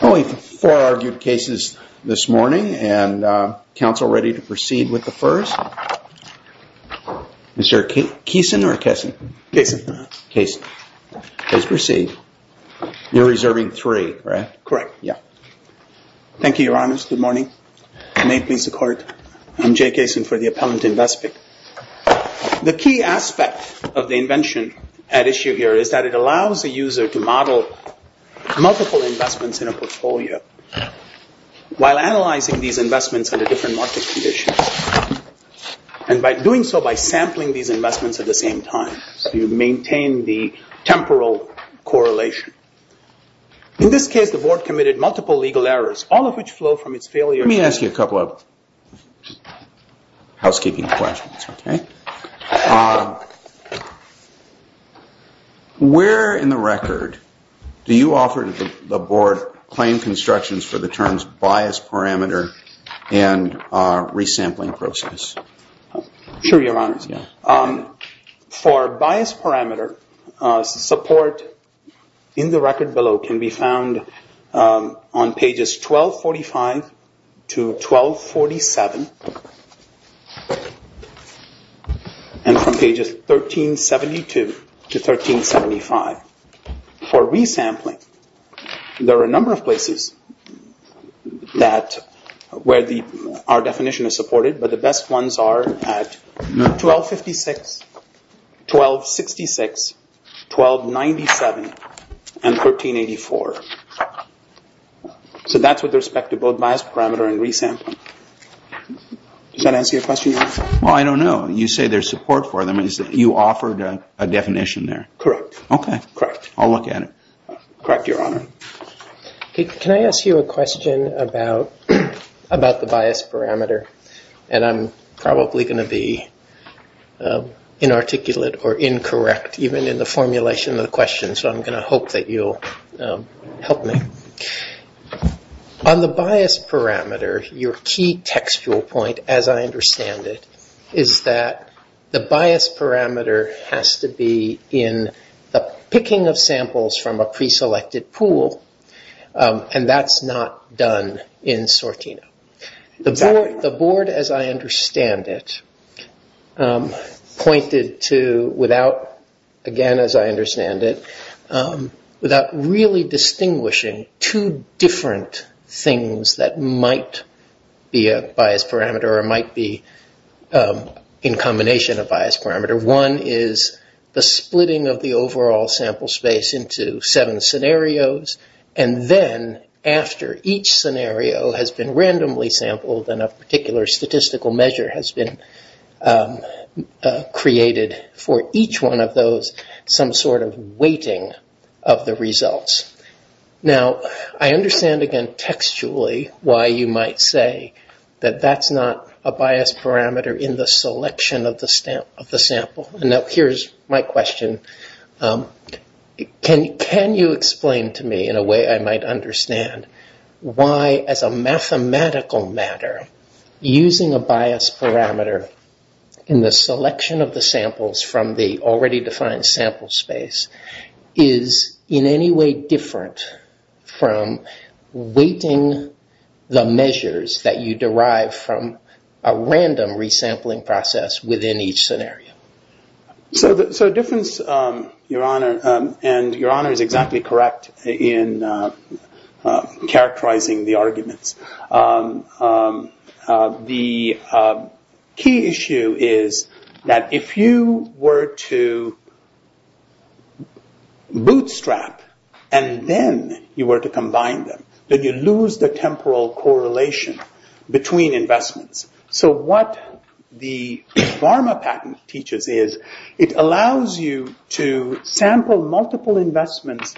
Only four argued cases this morning, and counsel ready to proceed with the first? Is there a Keeson or a Kessin? Kessin. Kessin. Please proceed. You're reserving three, right? Correct. Yeah. Thank you, Your Honors. Good morning. May it please the Court. I'm Jay Kessin for the Appellant Investment. The key aspect of the invention at issue here is that it allows a user to model multiple investments in a portfolio while analyzing these investments under different market conditions. And by doing so, by sampling these investments at the same time, you maintain the temporal correlation. In this case, the Board committed multiple legal errors, all of which flow from its failure to housekeeping questions. Where in the record do you offer the Board claim constructions for the terms bias parameter and resampling process? Sure, Your Honors. For bias parameter, support in the record below can be found on pages 1245 to 1247 and from pages 1372 to 1375. For resampling, there are a number of places where our definition is supported, but the best ones are at 1256, 1266, 1297, and 1384. So that's with respect to both bias parameter and resampling. Does that answer your question, Your Honor? Well, I don't know. You say there's support for them. You offered a definition there. Correct. Okay, correct. I'll look at it. Correct, Your Honor. Can I ask you a question about the bias parameter? And I'm probably going to be inarticulate or incorrect even in the formulation of the question, so I'm going to hope that you'll help me. On the bias parameter, your key textual point, as I understand it, is that the bias parameter has to be in the picking of samples from a preselected pool, and that's not done in SORTINO. The board, as I understand it, pointed to, again as I understand it, without really distinguishing two different things that might be a bias parameter or might be in combination a bias parameter. One is the splitting of the overall sample space into seven scenarios, and then after each scenario has been randomly sampled and a particular statistical measure has been created for each one of those, some sort of weighting of the results. Now, I understand again textually why you might say that that's not a bias parameter in the selection of the sample. Now, here's my question. Can you explain to me in a way I might understand why, as a mathematical matter, using a bias parameter in the selection of the samples from the already defined sample space is in any way different from weighting the measures that you derive from a random resampling process within each scenario? The difference, Your Honor, and Your Honor is exactly correct in characterizing the arguments. The key issue is that if you were to bootstrap and then you were to combine them, then you lose the temporal correlation between investments. So what the Varma patent teaches is it allows you to sample multiple investments,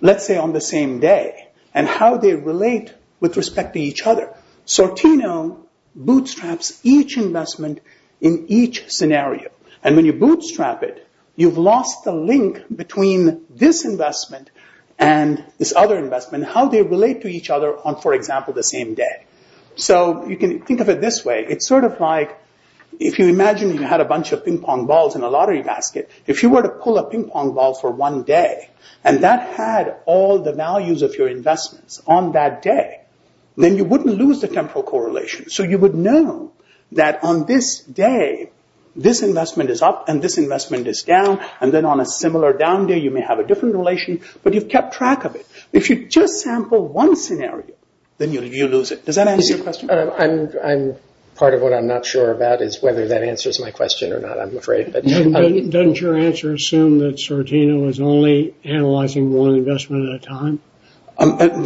let's say on the same day, and how they relate with respect to each other. Sortino bootstraps each investment in each scenario. And when you bootstrap it, you've lost the link between this investment and this other investment, how they relate to each other on, for example, the same day. So you can think of it this way. It's sort of like, if you imagine you had a bunch of ping-pong balls in a lottery basket, if you were to pull a ping-pong ball for one day, and that had all the values of your investments on that day, then you wouldn't lose the temporal correlation. So you would know that on this day, this investment is up and this investment is down, and then on a similar down day you may have a different relation, but you've kept track of it. If you just sample one scenario, then you lose it. Does that answer your question? Part of what I'm not sure about is whether that answers my question or not, I'm afraid. Doesn't your answer assume that Sortino is only analyzing one investment at a time?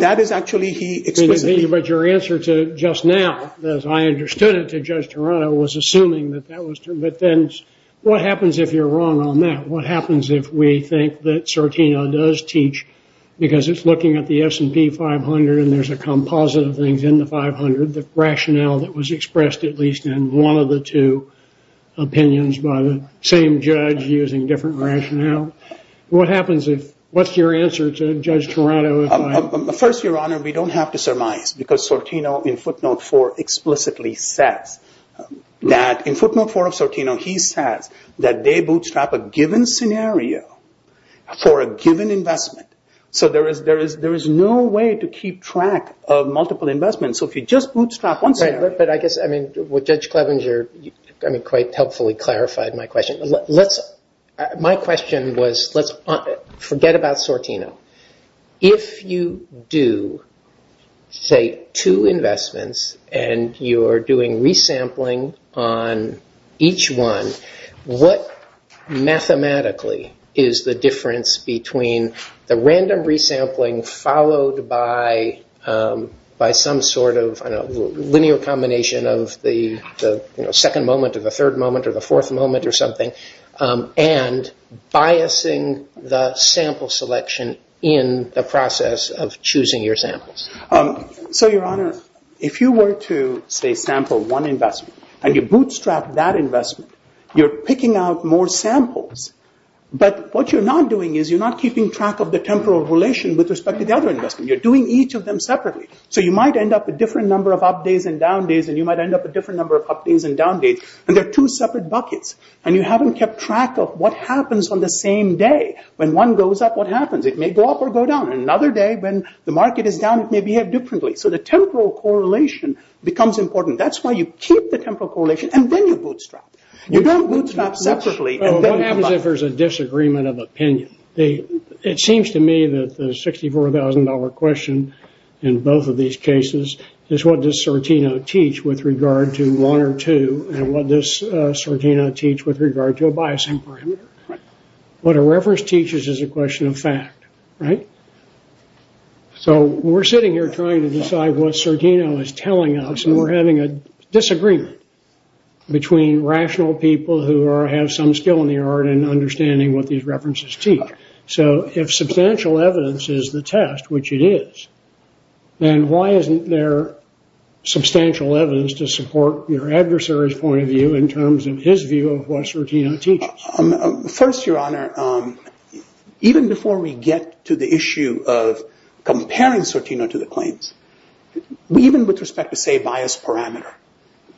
That is actually, he explicitly— But your answer to just now, as I understood it to Judge Toronto, was assuming that that was true. But then what happens if you're wrong on that? What happens if we think that Sortino does teach, because it's looking at the S&P 500 and there's a composite of things in the 500, the rationale that was expressed at least in one of the two opinions by the same judge using different rationale. What happens if—what's your answer to Judge Toronto? First, Your Honor, we don't have to surmise, because Sortino in footnote 4 explicitly says that— for a given investment. There is no way to keep track of multiple investments. If you just bootstrap one scenario— But I guess what Judge Clevenger quite helpfully clarified my question. My question was, forget about Sortino. If you do, say, two investments and you're doing resampling on each one, what mathematically is the difference between the random resampling followed by some sort of linear combination of the second moment or the third moment or the fourth moment or something, and biasing the sample selection in the process of choosing your samples? So, Your Honor, if you were to, say, sample one investment, and you bootstrap that investment, you're picking out more samples. But what you're not doing is you're not keeping track of the temporal relation with respect to the other investment. You're doing each of them separately. So you might end up a different number of up days and down days, and you might end up a different number of up days and down days, and they're two separate buckets, and you haven't kept track of what happens on the same day. When one goes up, what happens? It may go up or go down. Another day, when the market is down, it may behave differently. So the temporal correlation becomes important. That's why you keep the temporal correlation, and then you bootstrap. You don't bootstrap separately. What happens if there's a disagreement of opinion? It seems to me that the $64,000 question in both of these cases is, what does Sortino teach with regard to one or two, and what does Sortino teach with regard to a biasing parameter? What a reference teaches is a question of fact, right? So we're sitting here trying to decide what Sortino is telling us, and we're having a disagreement between rational people who have some skill in the art and understanding what these references teach. So if substantial evidence is the test, which it is, then why isn't there substantial evidence to support your adversary's point of view in terms of his view of what Sortino teaches? First, Your Honor, even before we get to the issue of comparing Sortino to the claims, even with respect to, say, bias parameter,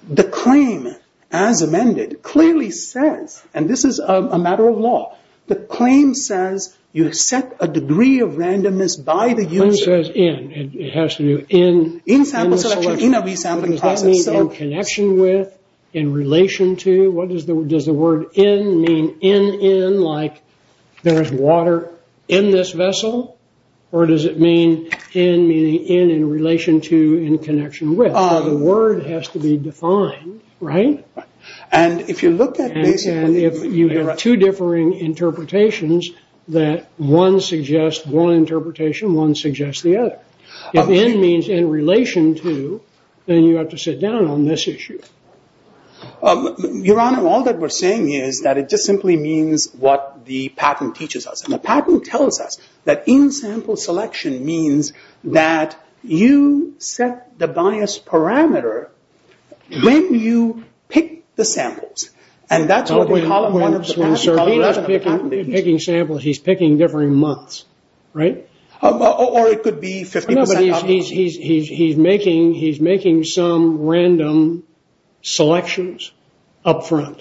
the claim, as amended, clearly says, and this is a matter of law, the claim says you set a degree of randomness by the user. It says in. It has to do in. In sample selection, in a resampling process. Does that mean in connection with, in relation to? Does the word in mean in, in, like there is water in this vessel? Or does it mean in, meaning in, in relation to, in connection with? The word has to be defined, right? And if you look at basically- And if you have two differing interpretations that one suggests one interpretation, one suggests the other. If in means in relation to, then you have to sit down on this issue. Your Honor, all that we're saying is that it just simply means what the patent teaches us. The patent tells us that in-sample selection means that you set the bias parameter when you pick the samples. And that's what we call- He's not picking samples. He's picking different months, right? Or it could be 50%- He's making some random selections up front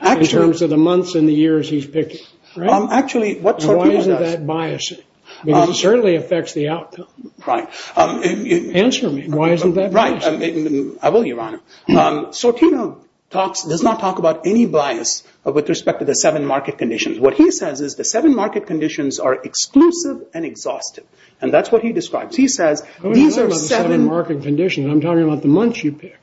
in terms of the months and the years he's picking. Actually, what Sortino does- Why isn't that biasing? Because it certainly affects the outcome. Right. Answer me. Why isn't that biasing? Right. I will, Your Honor. Sortino talks, does not talk about any bias with respect to the seven market conditions. What he says is the seven market conditions are exclusive and exhaustive. And that's what he describes. He says these are seven- I'm not talking about the seven market conditions. I'm talking about the months you pick.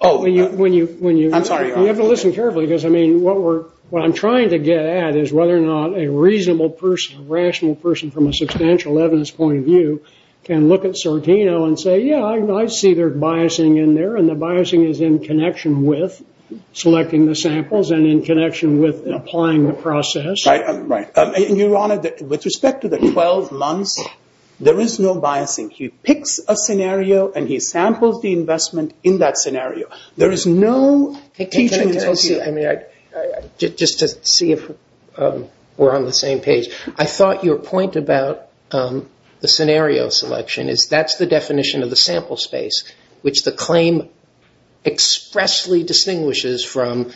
Oh. When you, when you- I'm sorry, Your Honor. You have to listen carefully because, I mean, what we're- what I'm trying to get at is whether or not a reasonable person, a rational person from a substantial evidence point of view can look at Sortino and say, yeah, I see their biasing in there. And the biasing is in connection with selecting the samples and in connection with applying the process. Right. And, Your Honor, with respect to the 12 months, there is no biasing. He picks a scenario and he samples the investment in that scenario. There is no teaching- Just to see if we're on the same page. I thought your point about the scenario selection is that's the definition of the sample space, which the claim expressly distinguishes from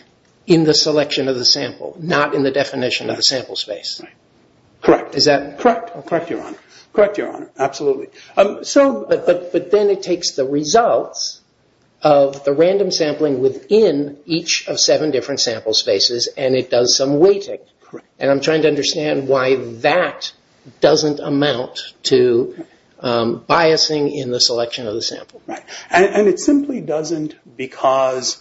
in the selection of the sample, not in the definition of the sample space. Correct. Is that- Correct, Your Honor. Correct, Your Honor. Absolutely. But then it takes the results of the random sampling within each of seven different sample spaces and it does some weighting. Correct. And I'm trying to understand why that doesn't amount to biasing in the selection of the sample. Right. And it simply doesn't because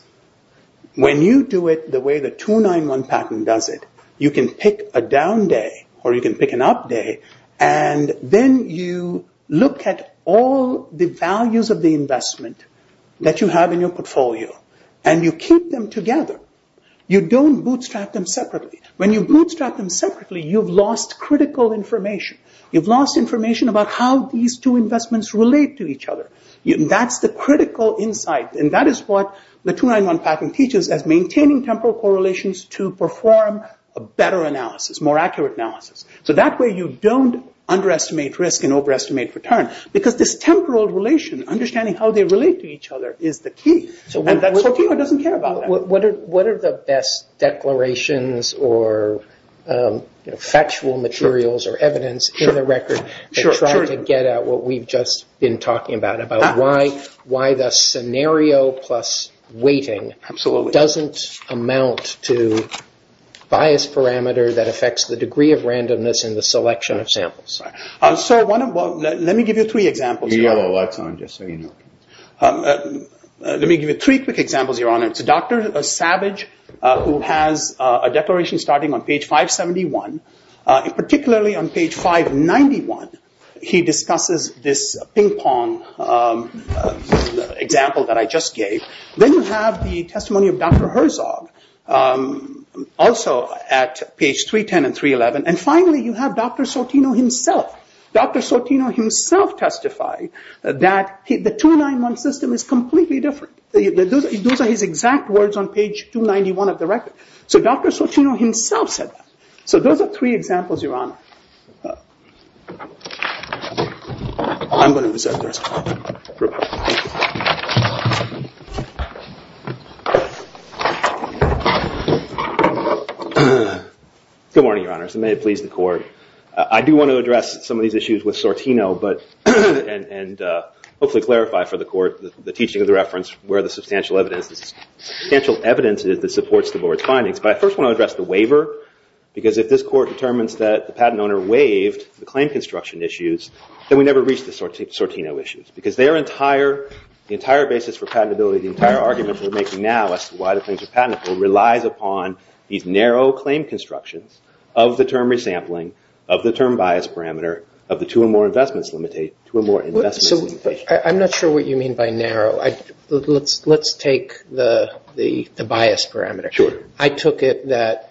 when you do it the way the 291 patent does it, you can pick a down day or you can pick an up day and then you look at all the values of the investment that you have in your portfolio and you keep them together. You don't bootstrap them separately. When you bootstrap them separately, you've lost critical information. You've lost information about how these two investments relate to each other. That's the critical insight and that is what the 291 patent teaches as maintaining temporal correlations to perform a better analysis, more accurate analysis. So that way you don't underestimate risk and overestimate return because this temporal relation, understanding how they relate to each other, is the key. And that's why Fino doesn't care about that. What are the best declarations or factual materials or evidence in the record to try to get at what we've just been talking about about why the scenario plus weighting doesn't amount to bias parameter that affects the degree of randomness in the selection of samples. So let me give you three examples. Your yellow light's on just so you know. Let me give you three quick examples, Your Honor. It's Dr. Savage who has a declaration starting on page 571. Particularly on page 591, he discusses this ping pong example that I just gave. Then you have the testimony of Dr. Herzog, also at page 310 and 311. And finally, you have Dr. Sortino himself. Dr. Sortino himself testified that the 291 system is completely different. Those are his exact words on page 291 of the record. So Dr. Sortino himself said that. So those are three examples, Your Honor. Good morning, Your Honors, and may it please the Court. I do want to address some of these issues with Sortino and hopefully clarify for the Court the teaching of the reference, where the substantial evidence is that supports the Board's findings. But I first want to address the waiver. Because if this Court determines that the patent owner waived the claim construction issues, then we never reach the Sortino issues. Because the entire basis for patentability, the entire argument we're making now as to why the claims are patentable, relies upon these narrow claim constructions of the term resampling, of the term bias parameter, of the two or more investments limitation. I'm not sure what you mean by narrow. Let's take the bias parameter. I took it that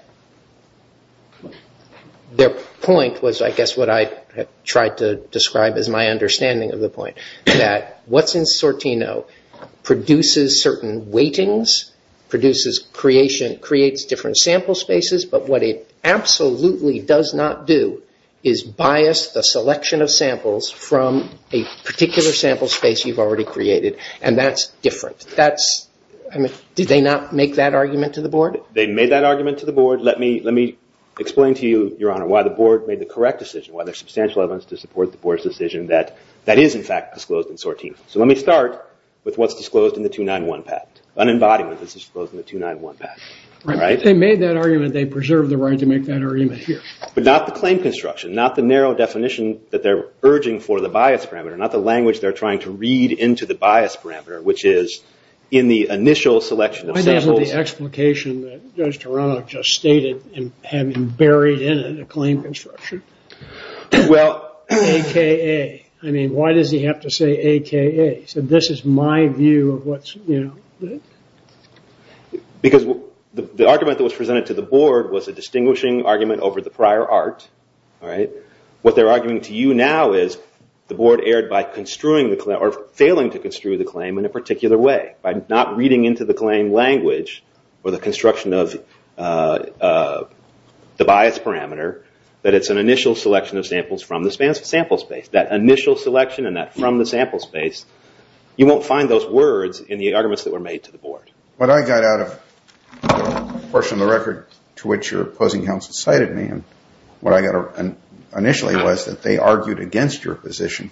their point was, I guess, what I tried to describe as my understanding of the point. That what's in Sortino produces certain weightings, creates different sample spaces, but what it absolutely does not do is bias the selection of samples from a particular sample space you've already created. And that's different. Did they not make that argument to the Board? They made that argument to the Board. Let me explain to you, Your Honor, why the Board made the correct decision, why there's substantial evidence to support the Board's decision that that is, in fact, disclosed in Sortino. So let me start with what's disclosed in the 291 patent. Unembodiment is disclosed in the 291 patent. If they made that argument, they preserved the right to make that argument here. But not the claim construction, not the narrow definition that they're urging for the bias parameter, not the language they're trying to read into the bias parameter, which is in the initial selection of samples. What about the explication that Judge Toronto just stated in having buried in it a claim construction? Well... A.K.A. I mean, why does he have to say A.K.A.? He said, this is my view of what's, you know... Because the argument that was presented to the Board was a distinguishing argument over the prior art, all right? What they're arguing to you now is the Board erred by construing the claim, or failing to construe the claim in a particular way. By not reading into the claim language or the construction of the bias parameter, that it's an initial selection of samples from the sample space. That initial selection and that from the sample space, you won't find those words in the arguments that were made to the Board. What I got out of the portion of the record to which your opposing counsel cited me, what I got initially was that they argued against your position,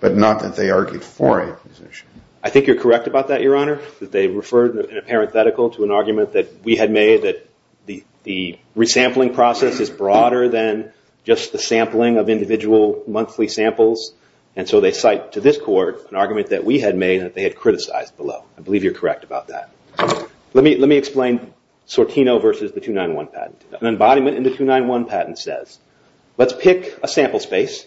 but not that they argued for a position. I think you're correct about that, Your Honor, that they referred in a parenthetical to an argument that we had made that the resampling process is broader than just the sampling of individual monthly samples, and so they cite to this court an argument that we had made that they had criticized below. I believe you're correct about that. Let me explain Sortino versus the 291 patent. An embodiment in the 291 patent says, let's pick a sample space,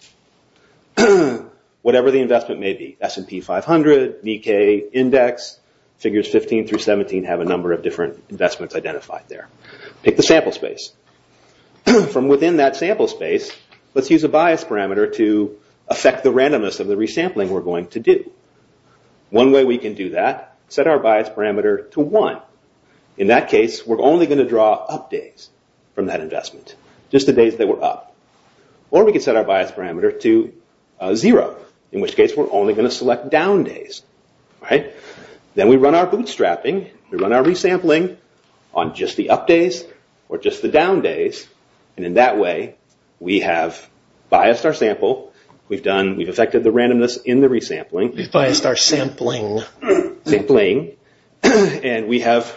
whatever the investment may be, S&P 500, Nikkei Index, figures 15 through 17 have a number of different investments identified there. Pick the sample space. From within that sample space, let's use a bias parameter to affect the randomness of the resampling we're going to do. One way we can do that, set our bias parameter to one. In that case, we're only going to draw up days from that investment, just the days that were up. Or we can set our bias parameter to zero, in which case we're only going to select down days. Then we run our bootstrapping, we run our resampling on just the up days or just the down days, and in that way, we have biased our sample, we've affected the randomness in the resampling. We've biased our sampling. And we have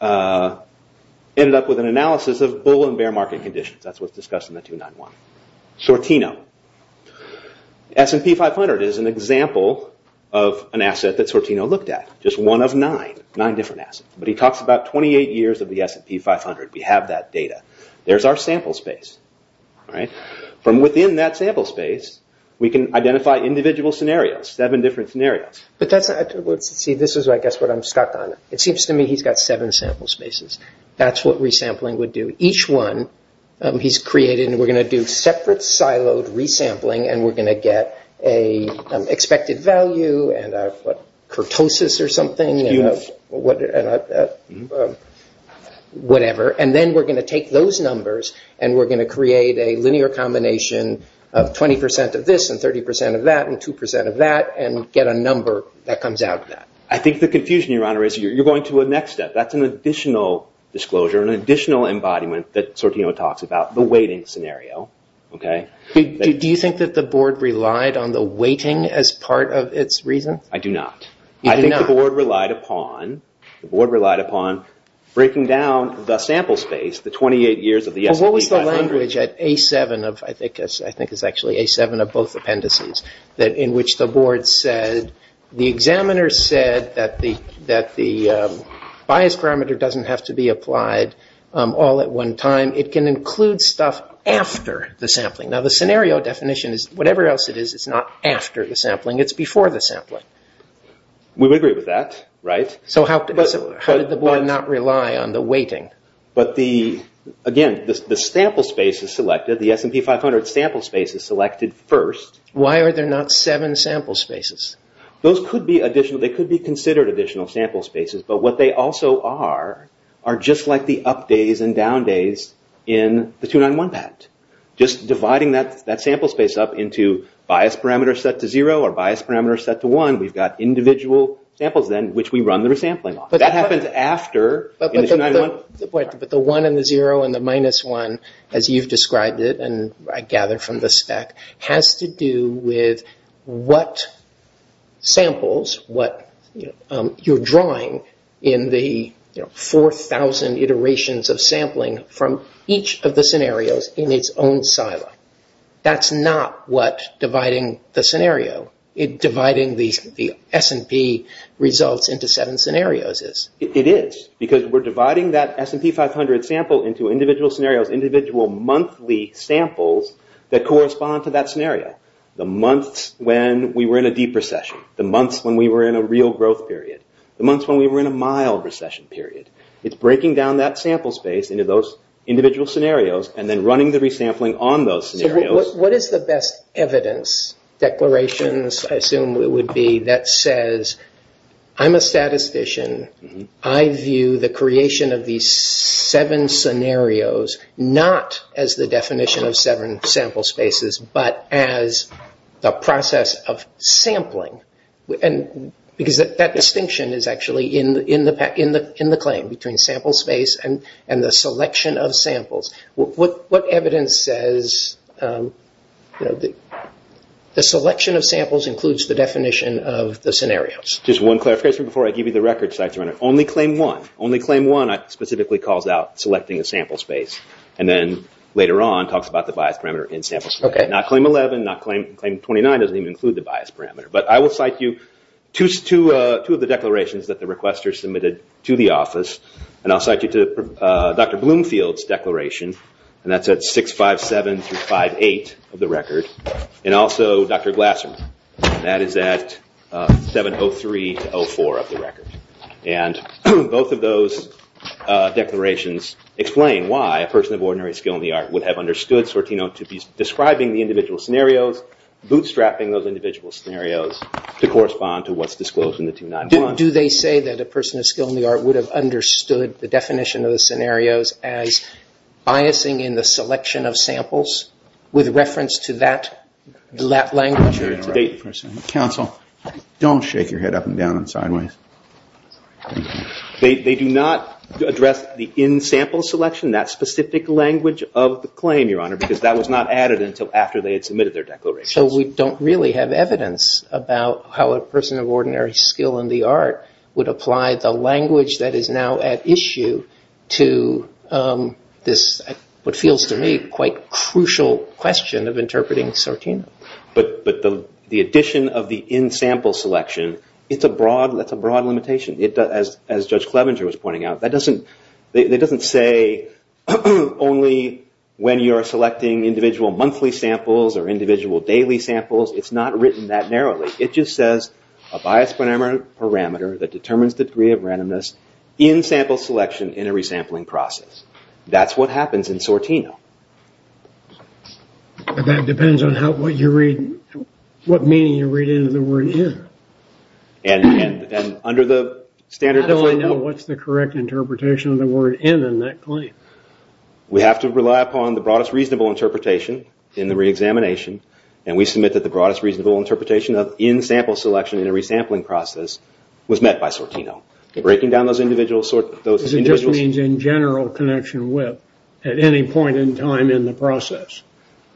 ended up with an analysis of bull and bear market conditions. That's what's discussed in the 291. Sortino. S&P 500 is an example of an asset that Sortino looked at. Just one of nine, nine different assets. But he talks about 28 years of the S&P 500. We have that data. There's our sample space. From within that sample space, we can identify individual scenarios, seven different scenarios. This is what I'm stuck on. It seems to me he's got seven sample spaces. That's what resampling would do. Each one he's created, and we're going to do separate siloed resampling, and we're going to get an expected value and a kurtosis or something, whatever. And then we're going to take those numbers, and we're going to create a linear combination of 20% of this and 30% of that and 2% of that and get a number that comes out of that. I think the confusion, Your Honor, is you're going to a next step. That's an additional disclosure, an additional embodiment that Sortino talks about, the weighting scenario. Do you think that the board relied on the weighting as part of its reasons? I do not. I think the board relied upon breaking down the sample space, the 28 years of the S&P 500. What was the language at A7, I think it's actually A7 of both appendices, in which the board said the examiner said that the bias parameter doesn't have to be applied all at one time. It can include stuff after the sampling. Now, the scenario definition is whatever else it is, it's not after the sampling. It's before the sampling. We would agree with that, right? So how did the board not rely on the weighting? Again, the sample space is selected, the S&P 500 sample space is selected first. Why are there not seven sample spaces? They could be considered additional sample spaces, but what they also are are just like the up days and down days in the 291 patent. Just dividing that sample space up into bias parameter set to zero or bias parameter set to one, we've got individual samples then which we run the resampling on. That happens after in the 291? But the one and the zero and the minus one, as you've described it, and I gather from the spec, has to do with what samples, what you're drawing in the 4,000 iterations of sampling from each of the scenarios in its own silo. That's not what dividing the scenario, dividing the S&P results into seven scenarios is. It is, because we're dividing that S&P 500 sample into individual scenarios, individual monthly samples that correspond to that scenario. The months when we were in a deep recession, the months when we were in a real growth period, the months when we were in a mild recession period. It's breaking down that sample space into those individual scenarios and then running the resampling on those scenarios. What is the best evidence, declarations I assume it would be, that says, I'm a statistician, I view the creation of these seven scenarios, not as the definition of seven sample spaces, but as the process of sampling. Because that distinction is actually in the claim between sample space and the selection of samples. What evidence says the selection of samples includes the definition of the scenarios? Just one clarification before I give you the record, only claim one. Only claim one specifically calls out selecting a sample space, and then later on talks about the bias parameter in sample space. Not claim 11, not claim 29, doesn't even include the bias parameter. But I will cite you two of the declarations that the requester submitted to the office, and I'll cite you to Dr. Bloomfield's declaration, and that's at 657-58 of the record, and also Dr. Glasser, and that is at 703-04 of the record. And both of those declarations explain why a person of ordinary skill in the art would have understood SORTINO to be describing the individual scenarios, bootstrapping those individual scenarios to correspond to what's disclosed in the 291. How do they say that a person of skill in the art would have understood the definition of the scenarios as biasing in the selection of samples with reference to that language? Counsel, don't shake your head up and down and sideways. They do not address the in-sample selection, that specific language of the claim, Your Honor, because that was not added until after they had submitted their declarations. So we don't really have evidence about how a person of ordinary skill in the art would apply the language that is now at issue to this, what feels to me, quite crucial question of interpreting SORTINO. But the addition of the in-sample selection, it's a broad limitation. As Judge Clevenger was pointing out, that doesn't say only when you are selecting individual monthly samples or individual daily samples. It's not written that narrowly. It just says a biased parameter that determines the degree of randomness in-sample selection in a resampling process. That's what happens in SORTINO. That depends on what meaning you read into the word in. I don't know what's the correct interpretation of the word in in that claim. We have to rely upon the broadest reasonable interpretation in the reexamination, and we submit that the broadest reasonable interpretation of in-sample selection in a resampling process was met by SORTINO. Breaking down those individual SORTINO... It just means in general connection with at any point in time in the process.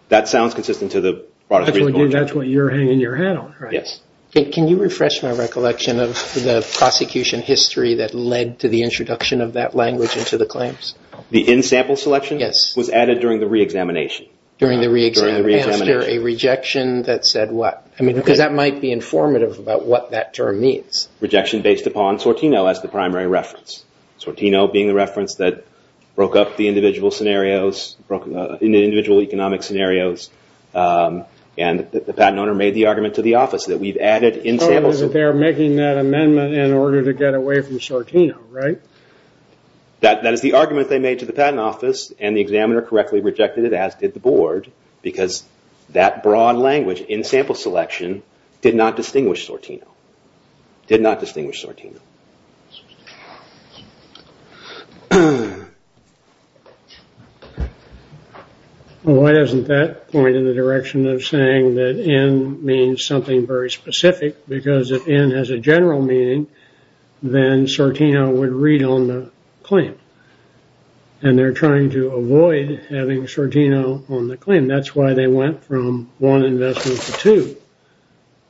That sounds consistent to the broadest reasonable interpretation. That's what you're hanging your hat on, right? Yes. Can you refresh my recollection of the prosecution history that led to the introduction of that language into the claims? The in-sample selection? Yes. It was added during the reexamination. During the reexamination. Was there a rejection that said what? Because that might be informative about what that term means. Rejection based upon SORTINO as the primary reference. SORTINO being the reference that broke up the individual scenarios, broke individual economic scenarios, and the patent owner made the argument to the office that we've added in-sample... Because they're making that amendment in order to get away from SORTINO, right? That is the argument they made to the patent office, and the examiner correctly rejected it, as did the board, because that broad language, in-sample selection, did not distinguish SORTINO. Did not distinguish SORTINO. Well, why doesn't that point in the direction of saying that SORTINO means something very specific, because if N has a general meaning, then SORTINO would read on the claim. And they're trying to avoid having SORTINO on the claim. That's why they went from one investment to two,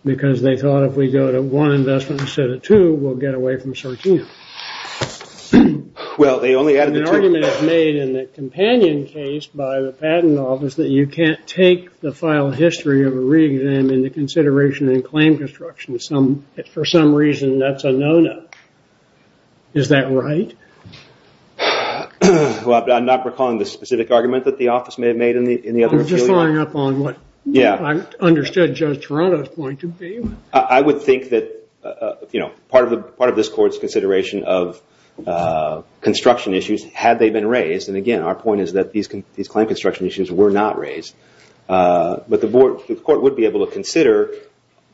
because they thought if we go to one investment instead of two, we'll get away from SORTINO. Well, they only added... The argument is made in the companion case by the patent office that you can't take the file history of a re-exam into consideration in claim construction. For some reason, that's a no-no. Is that right? I'm not recalling the specific argument that the office may have made in the other... I'm just following up on what I understood Judge Toronto's point to be. I would think that part of this court's consideration of construction issues, had they been raised, and again, our point is that these claim construction issues were not raised, but the court would be able to consider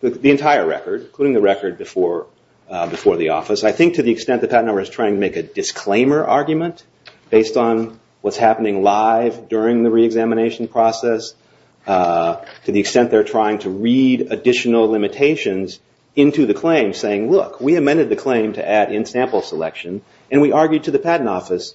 the entire record, including the record before the office. I think to the extent the patent office is trying to make a disclaimer argument based on what's happening live during the re-examination process, to the extent they're trying to read additional limitations into the claim, saying, look, we amended the claim to add in-sample selection, and we argued to the patent office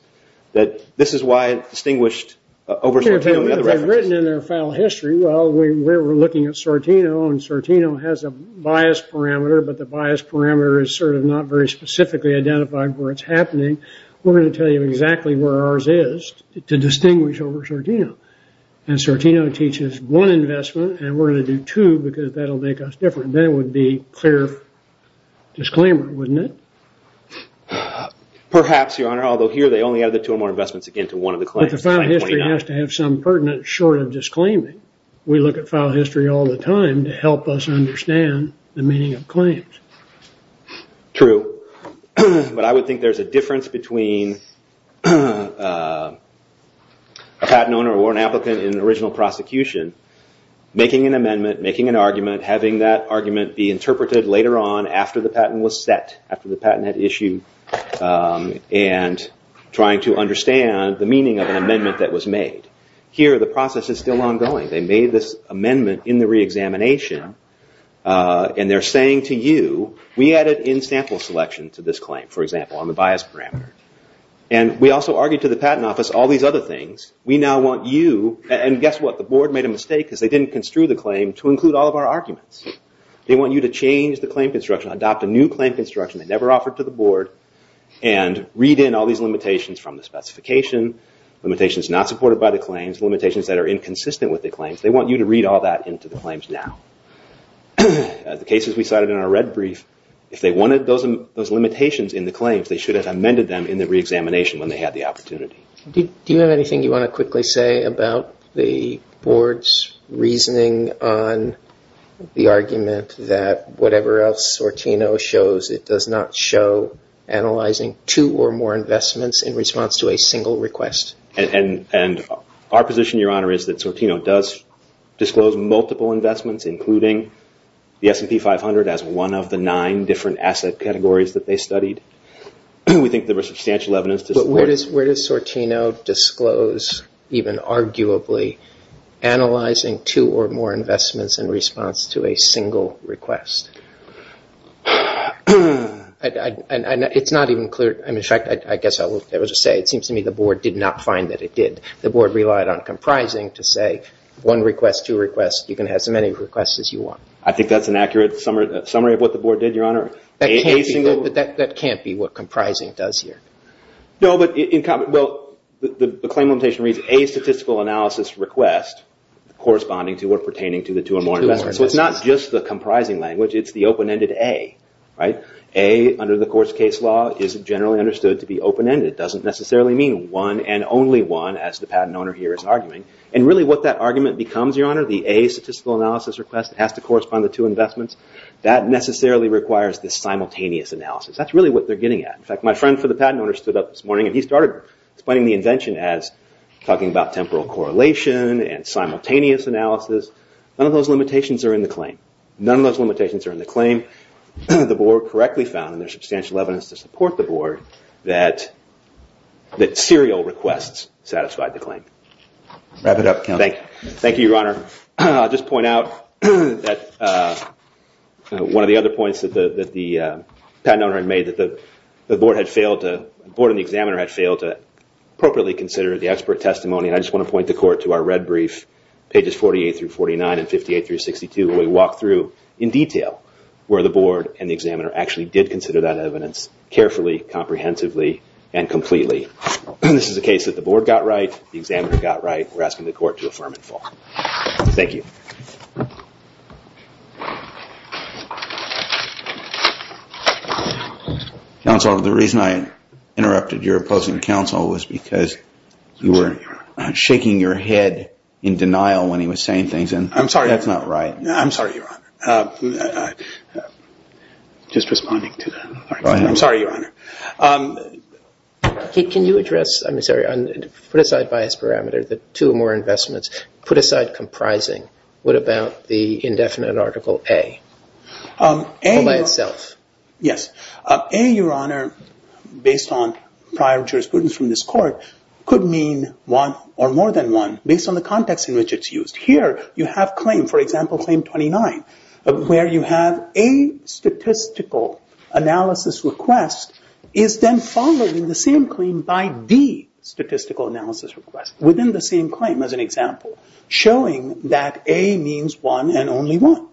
that this is why it distinguished over Sortino... If they had written in their file history, well, we were looking at Sortino, and Sortino has a bias parameter, but the bias parameter is sort of not very specifically identified where it's happening. We're going to tell you exactly where ours is to distinguish over Sortino. And Sortino teaches one investment, and we're going to do two, because that will make us different. Then it would be clear disclaimer, wouldn't it? Perhaps, Your Honor, although here they only added two or more investments again to one of the claims. But the file history has to have some pertinent short of disclaiming. We look at file history all the time to help us understand the meaning of claims. True, but I would think there's a difference between a patent owner or an applicant in original prosecution making an amendment, making an argument, having that argument be interpreted later on after the patent was set, after the patent had issued, and trying to understand the meaning of an amendment that was made. Here, the process is still ongoing. They made this amendment in the reexamination, and they're saying to you, we added in-sample selection to this claim, for example, on the bias parameter. And we also argued to the patent office all these other things. We now want you, and guess what? The board made a mistake because they didn't construe the claim to include all of our arguments. They want you to change the claim construction, adopt a new claim construction they never offered to the board, and read in all these limitations from the specification, limitations not supported by the claims, limitations that are inconsistent with the claims. They want you to read all that into the claims now. The cases we cited in our red brief, if they wanted those limitations in the claims, they should have amended them in the reexamination when they had the opportunity. Do you have anything you want to quickly say about the board's reasoning on the argument that whatever else Sortino shows, it does not show analyzing two or more investments in response to a single request? And our position, Your Honor, is that Sortino does disclose multiple investments, including the S&P 500 as one of the nine different asset categories that they studied. We think there was substantial evidence to support it. Where does Sortino disclose, even arguably, analyzing two or more investments in response to a single request? It's not even clear. In fact, I guess I will just say it seems to me the board did not find that it did. The board relied on comprising to say one request, two requests, you can have as many requests as you want. I think that's an accurate summary of what the board did, Your Honor. That can't be what comprising does here. No, but the claim limitation reads a statistical analysis request corresponding to or pertaining to the two or more investments. So it's not just the comprising language, it's the open-ended A. A, under the court's case law, is generally understood to be open-ended. It doesn't necessarily mean one and only one, as the patent owner here is arguing. And really what that argument becomes, Your Honor, the A statistical analysis request that has to correspond to two investments, that necessarily requires the simultaneous analysis. That's really what they're getting at. In fact, my friend for the patent owner stood up this morning and he started explaining the invention as talking about temporal correlation and simultaneous analysis. None of those limitations are in the claim. None of those limitations are in the claim. The board correctly found, and there's substantial evidence to support the board, that serial requests satisfied the claim. Thank you, Your Honor. I'll just point out that one of the other points that the patent owner had made that the board and the examiner had failed to appropriately consider the expert testimony, and I just want to point the court to our red brief, pages 48 through 49, and 58 through 62, where we walk through in detail where the board and the examiner actually did consider that evidence carefully, comprehensively, and completely. This is a case that the board got right, the examiner got right. We're asking the court to affirm and fall. Thank you. Counsel, the reason I interrupted your opposing counsel was because you were shaking your head in denial when he was saying things, and that's not right. I'm sorry, Your Honor. Just responding to that. Go ahead. I'm sorry, Your Honor. Can you address, I'm sorry, put aside bias parameter, the two or more investments, put aside comprising, what about the indefinite Article A by itself? Yes. A, Your Honor, based on prior jurisprudence from this court, could mean one or more than one based on the context in which it's used. Here you have claim, for example, Claim 29, where you have A statistical analysis request is then followed in the same claim by D statistical analysis request within the same claim, as an example, showing that A means one and only one.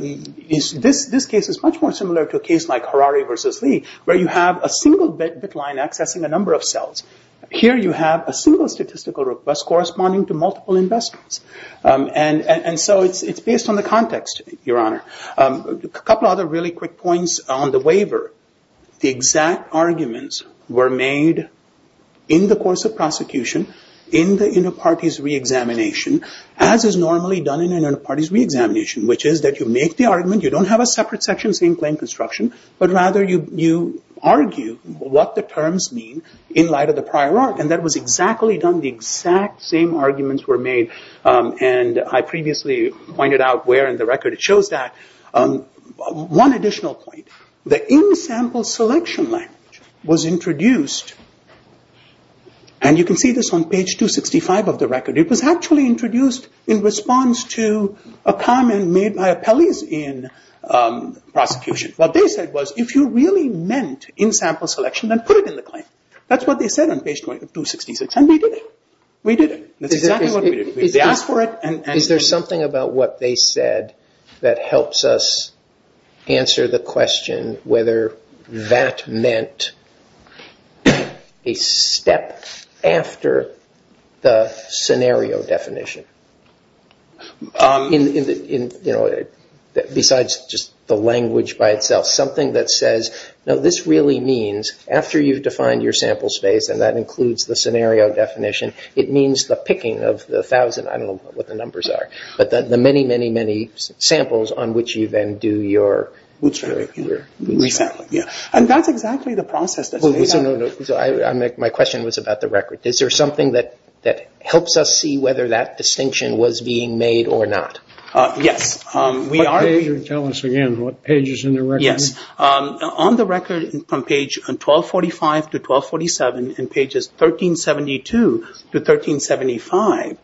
This case is much more similar to a case like Harari versus Lee, where you have a single bit line accessing a number of cells. Here you have a single statistical request corresponding to multiple investments. It's based on the context, Your Honor. A couple of other really quick points on the waiver. The exact arguments were made in the course of prosecution, in the inter-parties re-examination, as is normally done in an inter-parties re-examination, which is that you make the argument, you don't have a separate section saying claim construction, but rather you argue what the terms mean in light of the prior art, and that was exactly done. The exact same arguments were made, and I previously pointed out where in the record it shows that. One additional point. The in-sample selection line was introduced, and you can see this on page 265 of the record. It was actually introduced in response to a comment made by appellees in prosecution. What they said was, if you really meant in-sample selection, then put it in the claim. That's what they said on page 266, and we did it. We did it. That's exactly what we did. We asked for it. Is there something about what they said that helps us answer the question whether that meant a step after the scenario definition? Besides just the language by itself, something that says, no, this really means, after you've defined your sample space, and that includes the scenario definition, it means the picking of the thousand, I don't know what the numbers are, but the many, many, many samples on which you then do your resampling. And that's exactly the process. My question was about the record. Is there something that helps us see whether that distinction was being made or not? Yes. Tell us again what pages in the record? Yes. On the record from page 1245 to 1247, in pages 1372 to 1375,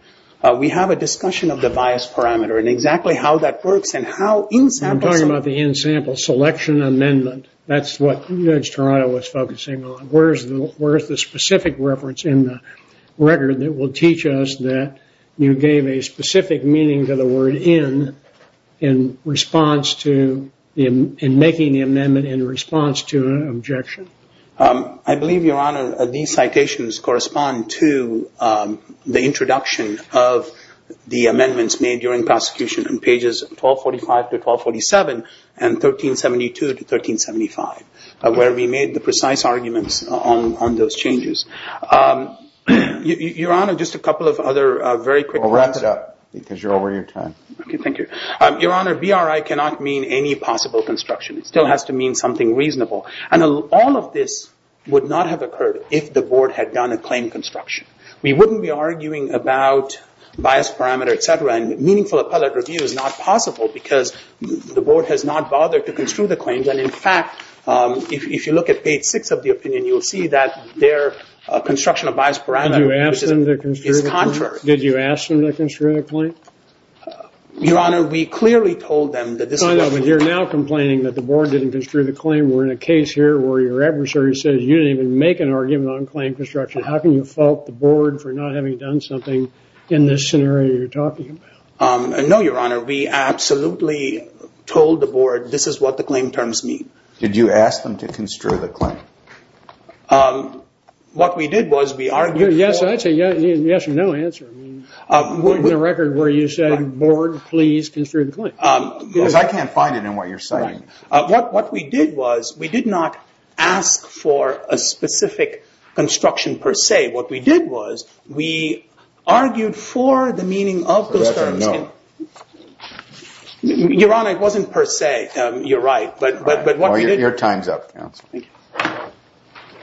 we have a discussion of the bias parameter and exactly how that works and how in-samples. I'm talking about the in-sample selection amendment. That's what Judge Toronto was focusing on. Where is the specific reference in the record that will teach us that you are making the amendment in response to an objection? I believe, Your Honor, these citations correspond to the introduction of the amendments made during prosecution in pages 1245 to 1247 and 1372 to 1375, where we made the precise arguments on those changes. Your Honor, just a couple of other very quick comments. Well, wrap it up because you're over your time. Okay, thank you. Your Honor, BRI cannot mean any possible construction. It still has to mean something reasonable. All of this would not have occurred if the Board had done a claim construction. We wouldn't be arguing about bias parameter, et cetera, and meaningful appellate review is not possible because the Board has not bothered to construe the claims. In fact, if you look at page 6 of the opinion, you will see that their construction of bias parameter is contrary. Did you ask them to construe the claim? Your Honor, we clearly told them that this is... I know, but you're now complaining that the Board didn't construe the claim. We're in a case here where your adversary says you didn't even make an argument on claim construction. How can you fault the Board for not having done something in this scenario you're talking about? No, Your Honor. We absolutely told the Board this is what the claim terms mean. Did you ask them to construe the claim? What we did was we argued... I'd say yes or no answer. In the record where you said, Board, please construe the claim. Because I can't find it in what you're saying. What we did was we did not ask for a specific construction per se. What we did was we argued for the meaning of those terms. That's a no. Your Honor, it wasn't per se. You're right. Your time's up, counsel. Thank you.